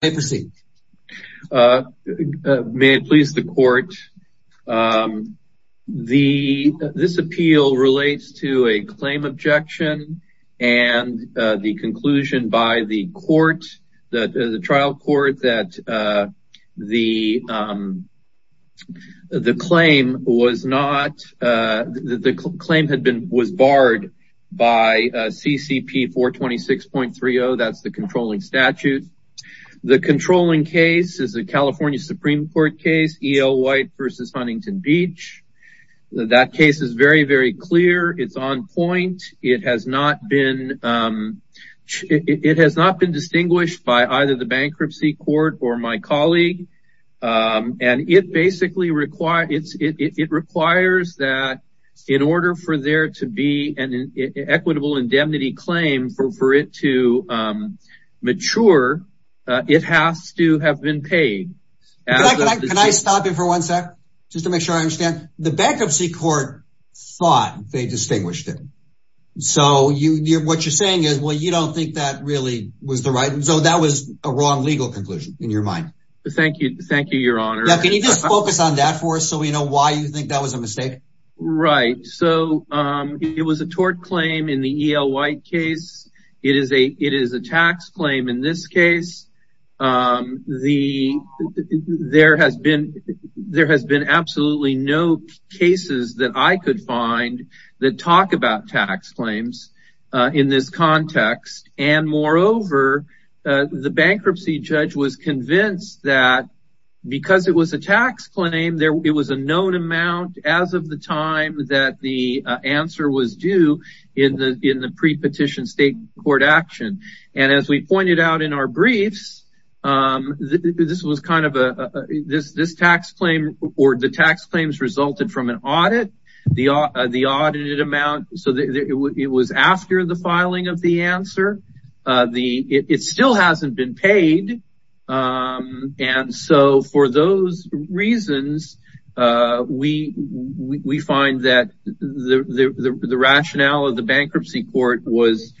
May it please the court, this appeal relates to a claim objection and the conclusion by the trial court that the claim was barred by CCP 426.30, that's the controlling statute. The controlling case is a California Supreme Court case, EO White versus Huntington Beach. That case is very, very clear. It's on point. It has not been distinguished by either the bankruptcy court or my colleague. And it requires that in order for there to be an equitable indemnity claim for it to mature, it has to have been paid. Can I stop you for one sec? Just to make sure I understand the bankruptcy court thought they distinguished it. So what you're saying is, well, you don't think that really was the right and so that was a wrong legal conclusion in your mind. Thank you. Thank you, Your Honor. Can you just focus on that for us so we know why you think that was a mistake? Right. So it was a tort claim in the EO White case. It is a tax claim in this case. There has been absolutely no cases that I could find that talk about tax claims in this context. And moreover, the bankruptcy judge was convinced that because it was a tax claim, it was a known amount as of the time that the answer was due in the pre-petition state court action. And as we pointed out in our briefs, this tax claim or the tax claims resulted from an audit, the audited amount. So it was after the filing of the answer. It still hasn't been paid. And so for those reasons, we find that the rationale of the bankruptcy court was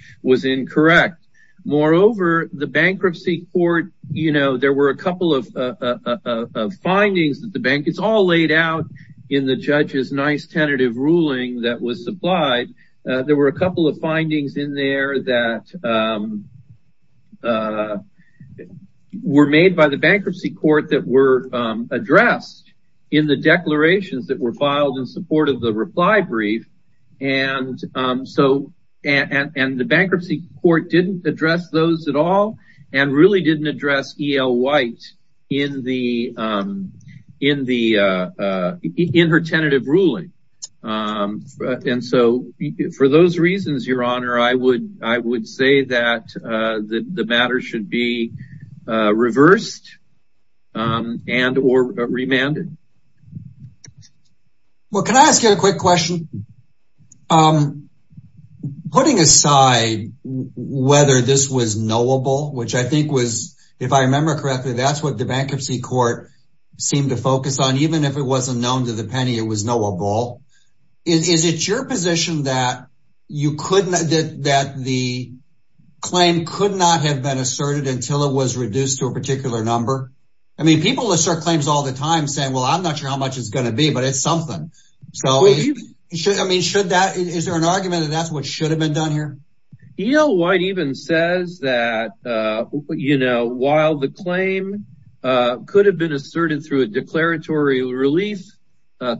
incorrect. Moreover, the bankruptcy court, you know, there were a couple of findings that the bank, it's all laid out in the judge's nice tentative ruling that was supplied. There were a couple of findings in there that were made by the bankruptcy court that were addressed in the declarations that were filed in support of the reply brief. And so and the bankruptcy court didn't address those at all and really didn't address E.L. White in her tentative ruling. And so for those reasons, your honor, I would say that the matter should be reversed and or remanded. Well, can I ask you a quick question? Putting aside whether this was knowable, which I think was, if I remember correctly, that's what the bankruptcy court seemed to focus on, even if it wasn't known to the penny, it was knowable. Is it your position that you couldn't, that the claim could not have been asserted until it was reduced to a particular number? I mean, people assert claims all the time saying, well, I'm not sure how much it's going to be, but it's something. Is there an argument that that's what should have been done here? E.L. White even says that, you know, while the claim could have been asserted through a declaratory relief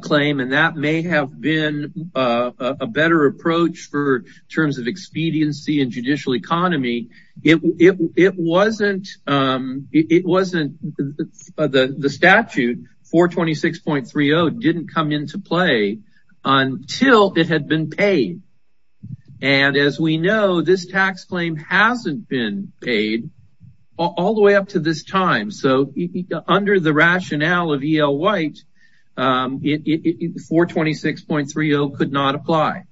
claim, and that may have been a better approach for terms of expediency and 426.30 didn't come into play until it had been paid. And as we know, this tax claim hasn't been paid all the way up to this time. So under the rationale of E.L. White, 426.30 could not apply.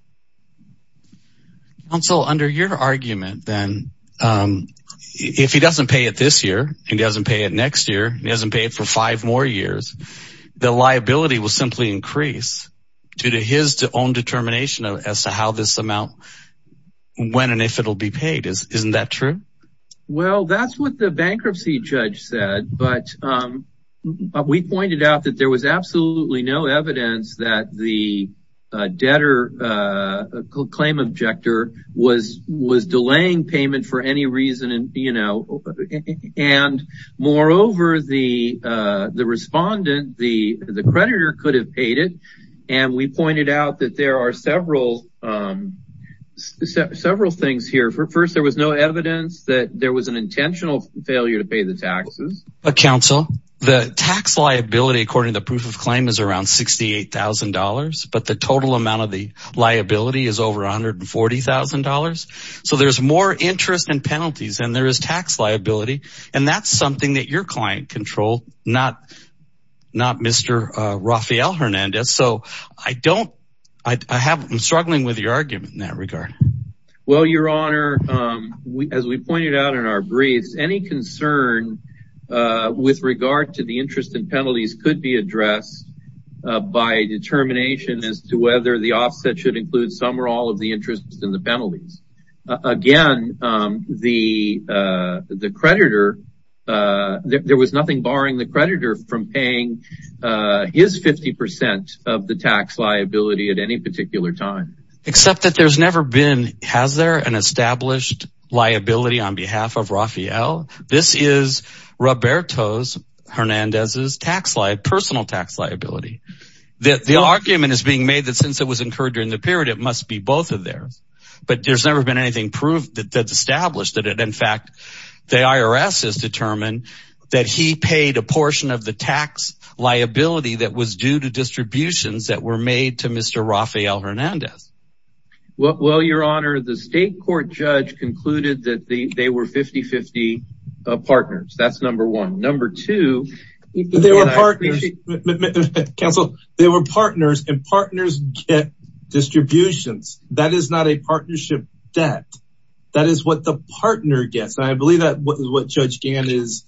Counsel, under your argument, then, if he doesn't pay it this year, he doesn't pay it next year, he doesn't pay it for five more years, the liability will simply increase due to his own determination as to how this amount, when and if it'll be paid. Isn't that true? Well, that's what the bankruptcy judge said. But we pointed out that there was absolutely no evidence that the debtor claim objector was delaying payment for any reason. And moreover, the respondent, the creditor, could have paid it. And we pointed out that there are several things here. First, there was no evidence that there was an intentional failure to pay the taxes. Counsel, the tax liability, according to the proof of claim, is around $68,000. But the total amount of the liability is over $140,000. So there's more interest and penalties than there is tax liability. And that's something that your client controlled, not Mr. Rafael Hernandez. So I don't, I'm struggling with your argument in that regard. Well, Your Honor, as we pointed out in our briefs, any concern with regard to the interest and penalties could be as to whether the offset should include some or all of the interest and the penalties. Again, the creditor, there was nothing barring the creditor from paying his 50% of the tax liability at any particular time. Except that there's never been, has there, an established liability on behalf of Rafael? This is Roberto Hernandez's personal tax liability. The argument is being made that since it was incurred during the period, it must be both of theirs. But there's never been anything proved that's established that it, in fact, the IRS has determined that he paid a portion of the tax liability that was due to distributions that were made to Mr. Rafael Hernandez. Well, Your Honor, the state court judge concluded that they were 50-50 partners. That's number one. Number two. They were partners. Counsel, they were partners and partners get distributions. That is not a partnership debt. That is what the partner gets. And I believe that what Judge Gann is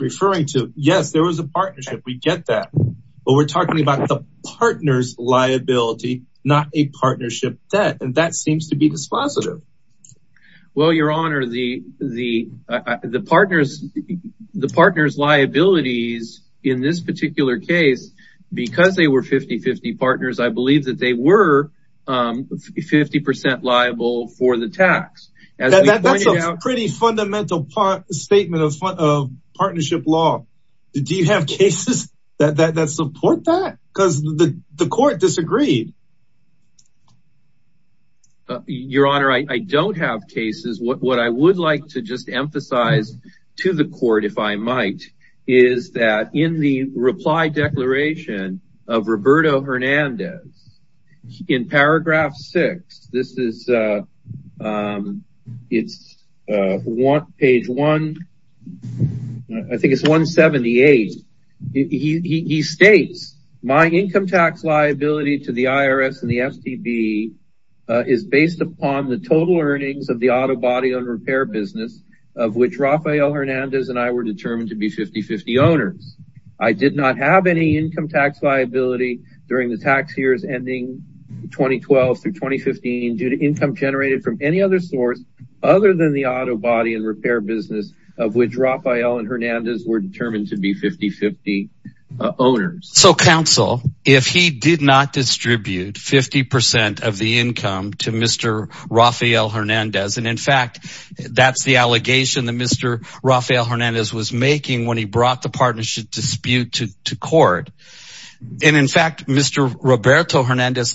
referring to. Yes, there was a partnership. We get that. But we're talking about the partner's liability, not a partnership debt. And that seems to be positive. Well, Your Honor, the partner's liabilities in this particular case, because they were 50-50 partners, I believe that they were 50% liable for the tax. That's a pretty fundamental statement of partnership law. Do you have cases that support that? Because the court disagreed. Your Honor, I don't have cases. What I would like to just emphasize to the court, if I might, is that in the reply declaration of Roberto Hernandez in paragraph six, this is page 178. He states, my income tax liability to the IRS and the STB is based upon the total earnings of the auto body and repair business of which Rafael Hernandez and I were determined to be 50-50 owners. I did not have any income tax liability during the tax years ending 2012 through 2015 due to income generated from any other source other than the auto body and repair business of which Rafael and Hernandez were determined to be 50-50 owners. So counsel, if he did not distribute 50% of the income to Mr. Rafael Hernandez, and in fact, that's the allegation that Mr. Rafael Hernandez was making when he brought the partnership dispute to court. And in fact, Mr. Hernandez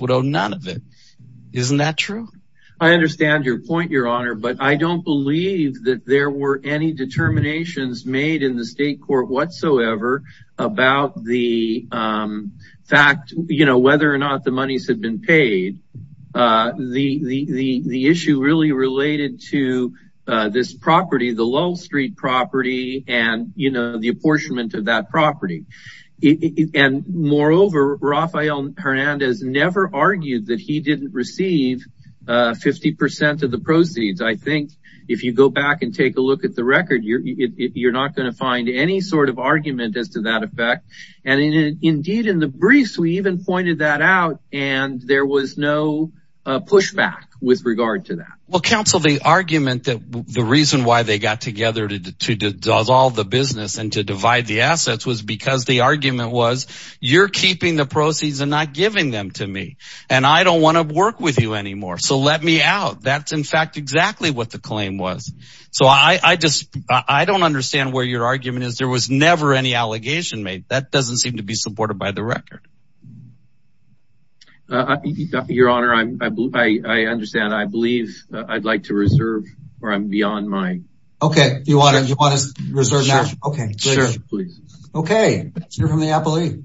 would owe none of it. Isn't that true? I understand your point, Your Honor, but I don't believe that there were any determinations made in the state court whatsoever about the fact, you know, whether or not the monies had been paid. The issue really related to this property, the Lowell Street property and, you know, the apportionment of that property. And moreover, Rafael Hernandez never argued that he didn't receive 50% of the proceeds. I think if you go back and take a look at the record, you're not going to find any sort of argument as to that effect. And indeed, in the briefs, we even pointed that out and there was no pushback with regard to that. Well, counsel, the argument that the reason why they got together to to dissolve the business and to divide the assets was because the argument was you're keeping the proceeds and not giving them to me. And I don't want to work with you anymore. So let me out. That's in fact, exactly what the claim was. So I just I don't understand where your argument is. There was never any allegation made. That doesn't seem to be supported by the record. Your Honor, I understand. I believe I'd like to reserve or I'm beyond my... Okay. Do you want to reserve now? Okay. Okay. Let's hear from the appellee.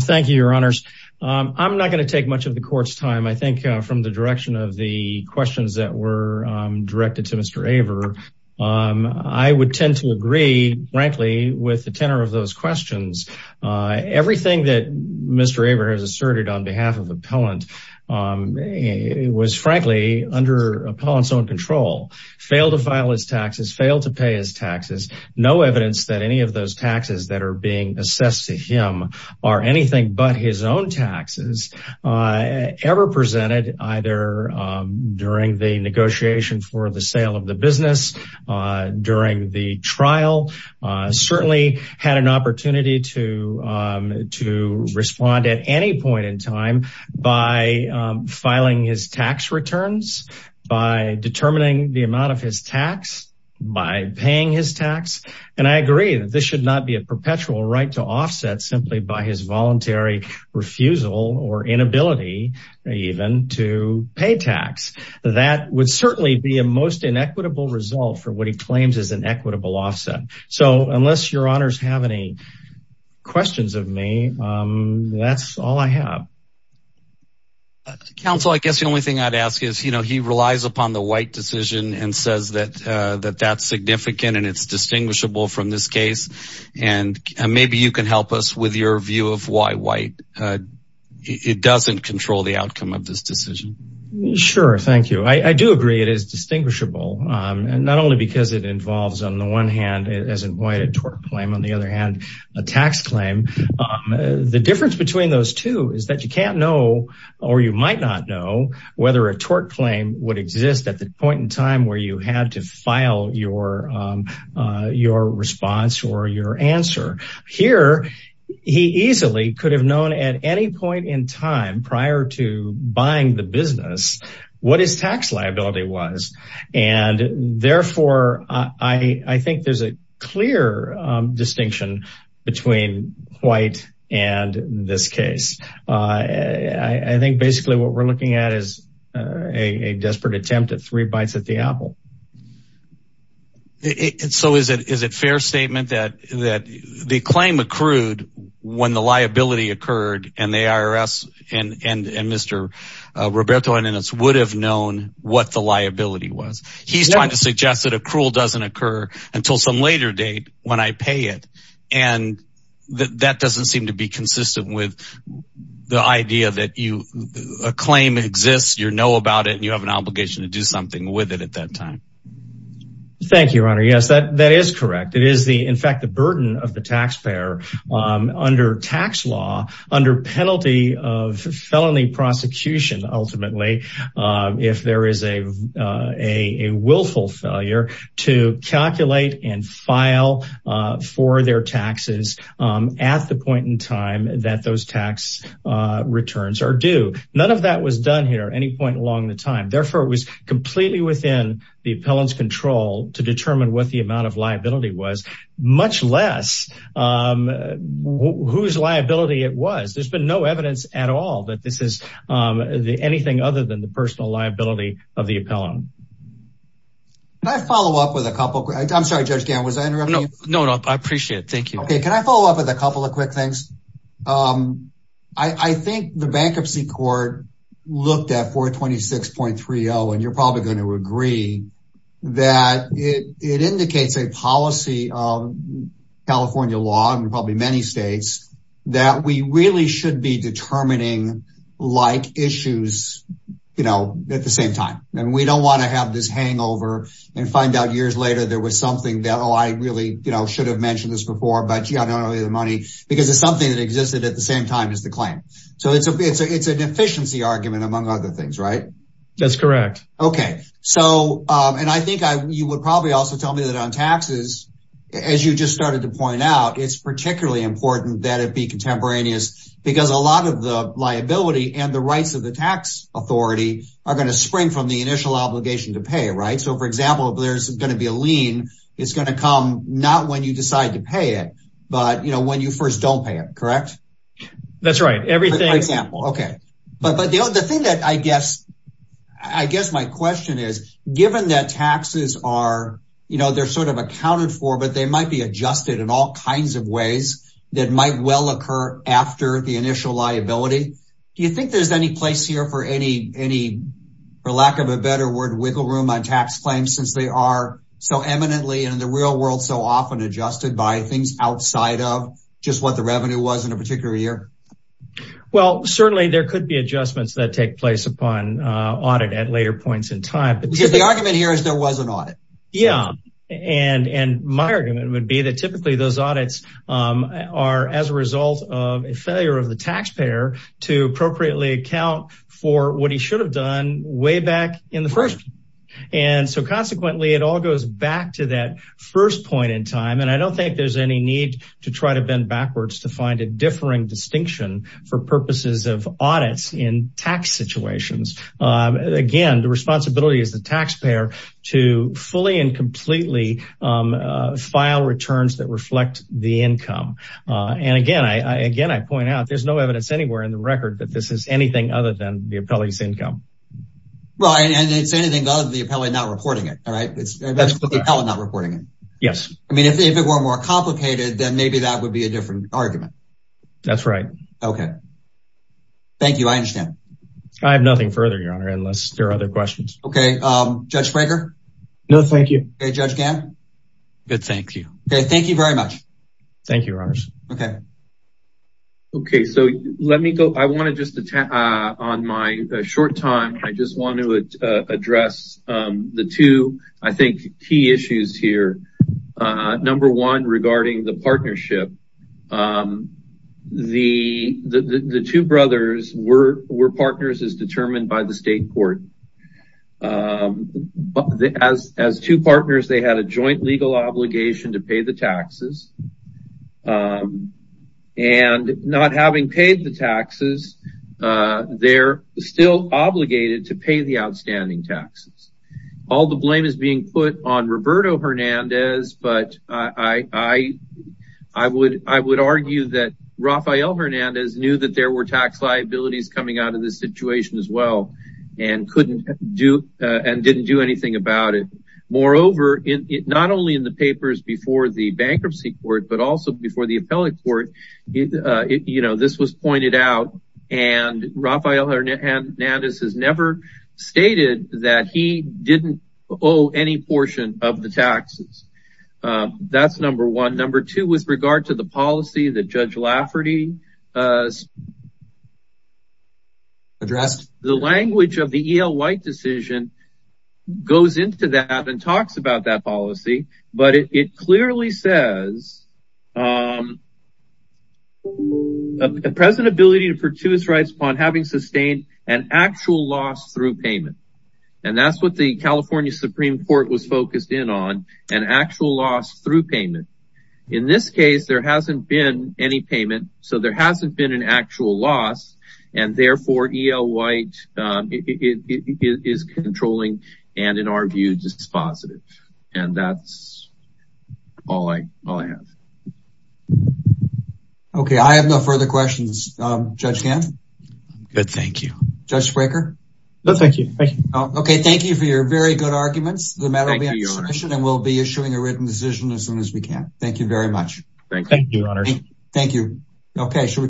Thank you, Your Honors. I'm not going to take much of the court's time. I think from the direction of the questions that were directed to Mr. Aver, I would tend to agree, frankly, with the tenor of those questions. Everything that Mr. Aver has asserted on behalf of the appellant was, frankly, under appellant's own control. Failed to file his taxes, failed to pay his taxes, no evidence that any of those taxes that are being assessed to him are anything but his own taxes, ever presented either during the negotiation for the sale of the business, during the trial, certainly had an opportunity to respond at any point in time by filing his tax returns, by determining the amount of his tax, by paying his tax. And I agree that this should not be a perpetual right to offset simply by his voluntary refusal or inability even to pay tax. That would So unless Your Honors have any questions of me, that's all I have. Counsel, I guess the only thing I'd ask is, you know, he relies upon the White decision and says that that's significant and it's distinguishable from this case. And maybe you can help us with your view of why White, it doesn't control the outcome of this decision. Sure. Thank you. I do agree. It is distinguishable. And not only because it involves, on the one hand, as White, a tort claim, on the other hand, a tax claim. The difference between those two is that you can't know, or you might not know, whether a tort claim would exist at the point in time where you had to file your response or your answer. Here, he easily could have known at any point in time prior to buying the business, what his tax liability was. And therefore, I think there's a clear distinction between White and this case. I think basically what we're looking at is a desperate attempt at three bites at the apple. So is it fair statement that the claim accrued when the liability occurred and the IRS and Mr. Roberto Hernandez would have known what the liability was? He's trying to suggest that accrual doesn't occur until some later date when I pay it. And that doesn't seem to be consistent with the idea that a claim exists, you know about it, and you have an obligation to do something with it at that time. Thank you, Your Honor. Yes, that is correct. It is, in fact, the burden of taxpayer under tax law, under penalty of felony prosecution, ultimately, if there is a willful failure to calculate and file for their taxes at the point in time that those tax returns are due. None of that was done here at any point along the time. Therefore, it was completely within the appellant's control to determine what the amount of liability was, much less whose liability it was. There's been no evidence at all that this is anything other than the personal liability of the appellant. Can I follow up with a couple? I'm sorry, Judge Gannon, was I interrupting you? No, no, I appreciate it. Thank you. Okay, can I follow up with a couple of quick things? I think the Bankruptcy Court looked at 426.30, and you're probably going to agree that it indicates a policy of California law, and probably many states, that we really should be determining like issues, you know, at the same time. And we don't want to have this hangover and find out years later there was something that, oh, I really, you know, should have mentioned this but, gee, I don't owe you the money, because it's something that existed at the same time as the claim. So it's an efficiency argument among other things, right? That's correct. Okay, so, and I think you would probably also tell me that on taxes, as you just started to point out, it's particularly important that it be contemporaneous, because a lot of the liability and the rights of the tax authority are going to spring from the initial obligation to pay, right? So, for example, there's going to be a lien, it's going to come not when you decide to pay it, but, you know, when you first don't pay it, correct? That's right, everything... For example, okay. But the thing that I guess, I guess my question is, given that taxes are, you know, they're sort of accounted for, but they might be adjusted in all kinds of ways that might well occur after the initial liability, do you think there's any place here for any, for lack of a better word, wiggle room on tax claims, since they are so eminently and in the real world so often adjusted by things outside of just what the revenue was in a particular year? Well, certainly there could be adjustments that take place upon audit at later points in time. Because the argument here is there was an audit. Yeah, and my argument would be that typically those audits are as a result of a failure of the taxpayer to appropriately account for what he should have done way back in the first. And so consequently, it all goes back to that first point in time. And I don't think there's any need to try to bend backwards to find a differing distinction for purposes of audits in tax situations. Again, the responsibility is the taxpayer to fully and completely file returns that reflect the income. And again, I again, I point out, there's no evidence anywhere in the record that this is anything other than the appellee's income. Right, and it's anything other than the appellee not reporting it. All right. That's the appellate not reporting it. Yes. I mean, if it were more complicated, then maybe that would be a different argument. That's right. Okay. Thank you. I understand. I have nothing further, Your Honor, unless there are other questions. Okay. Judge Spranker? No, thank you. Judge Gann? Good, thank you. Okay, thank you very much. Thank you, Your Honors. Okay. Okay, so let me go. I want to just the two, I think, key issues here. Number one, regarding the partnership. The two brothers were partners as determined by the state court. As two partners, they had a joint legal obligation to pay the taxes. And not having paid the taxes, they're still obligated to pay the outstanding taxes. All the blame is being put on Roberto Hernandez, but I would argue that Raphael Hernandez knew that there were tax liabilities coming out of this situation as well, and didn't do anything about it. Moreover, not only in the papers before the bankruptcy court, but also before the appellate court, you know, this was pointed out. And Raphael Hernandez has never stated that he didn't owe any portion of the taxes. That's number one. Number two, with regard to the policy that Judge Lafferty addressed, the language of the E.L. White decision goes into that and talks about that policy, but it clearly says a present ability to purchase rights upon having sustained an actual loss through payment. And that's what the California Supreme Court was focused in on, an actual loss through payment. In this case, there hasn't been any payment, so there hasn't been an actual loss, and therefore E.L. White is controlling, and in our view, just positive. And that's all I have. Okay, I have no further questions. Judge Gant? Good, thank you. Judge Fraker? No, thank you. Okay, thank you for your very good arguments. The matter will be on submission, and we'll be issuing a written decision as soon as we can. Thank you very much. Thank you, Your Honor. Thank you. Okay, should we?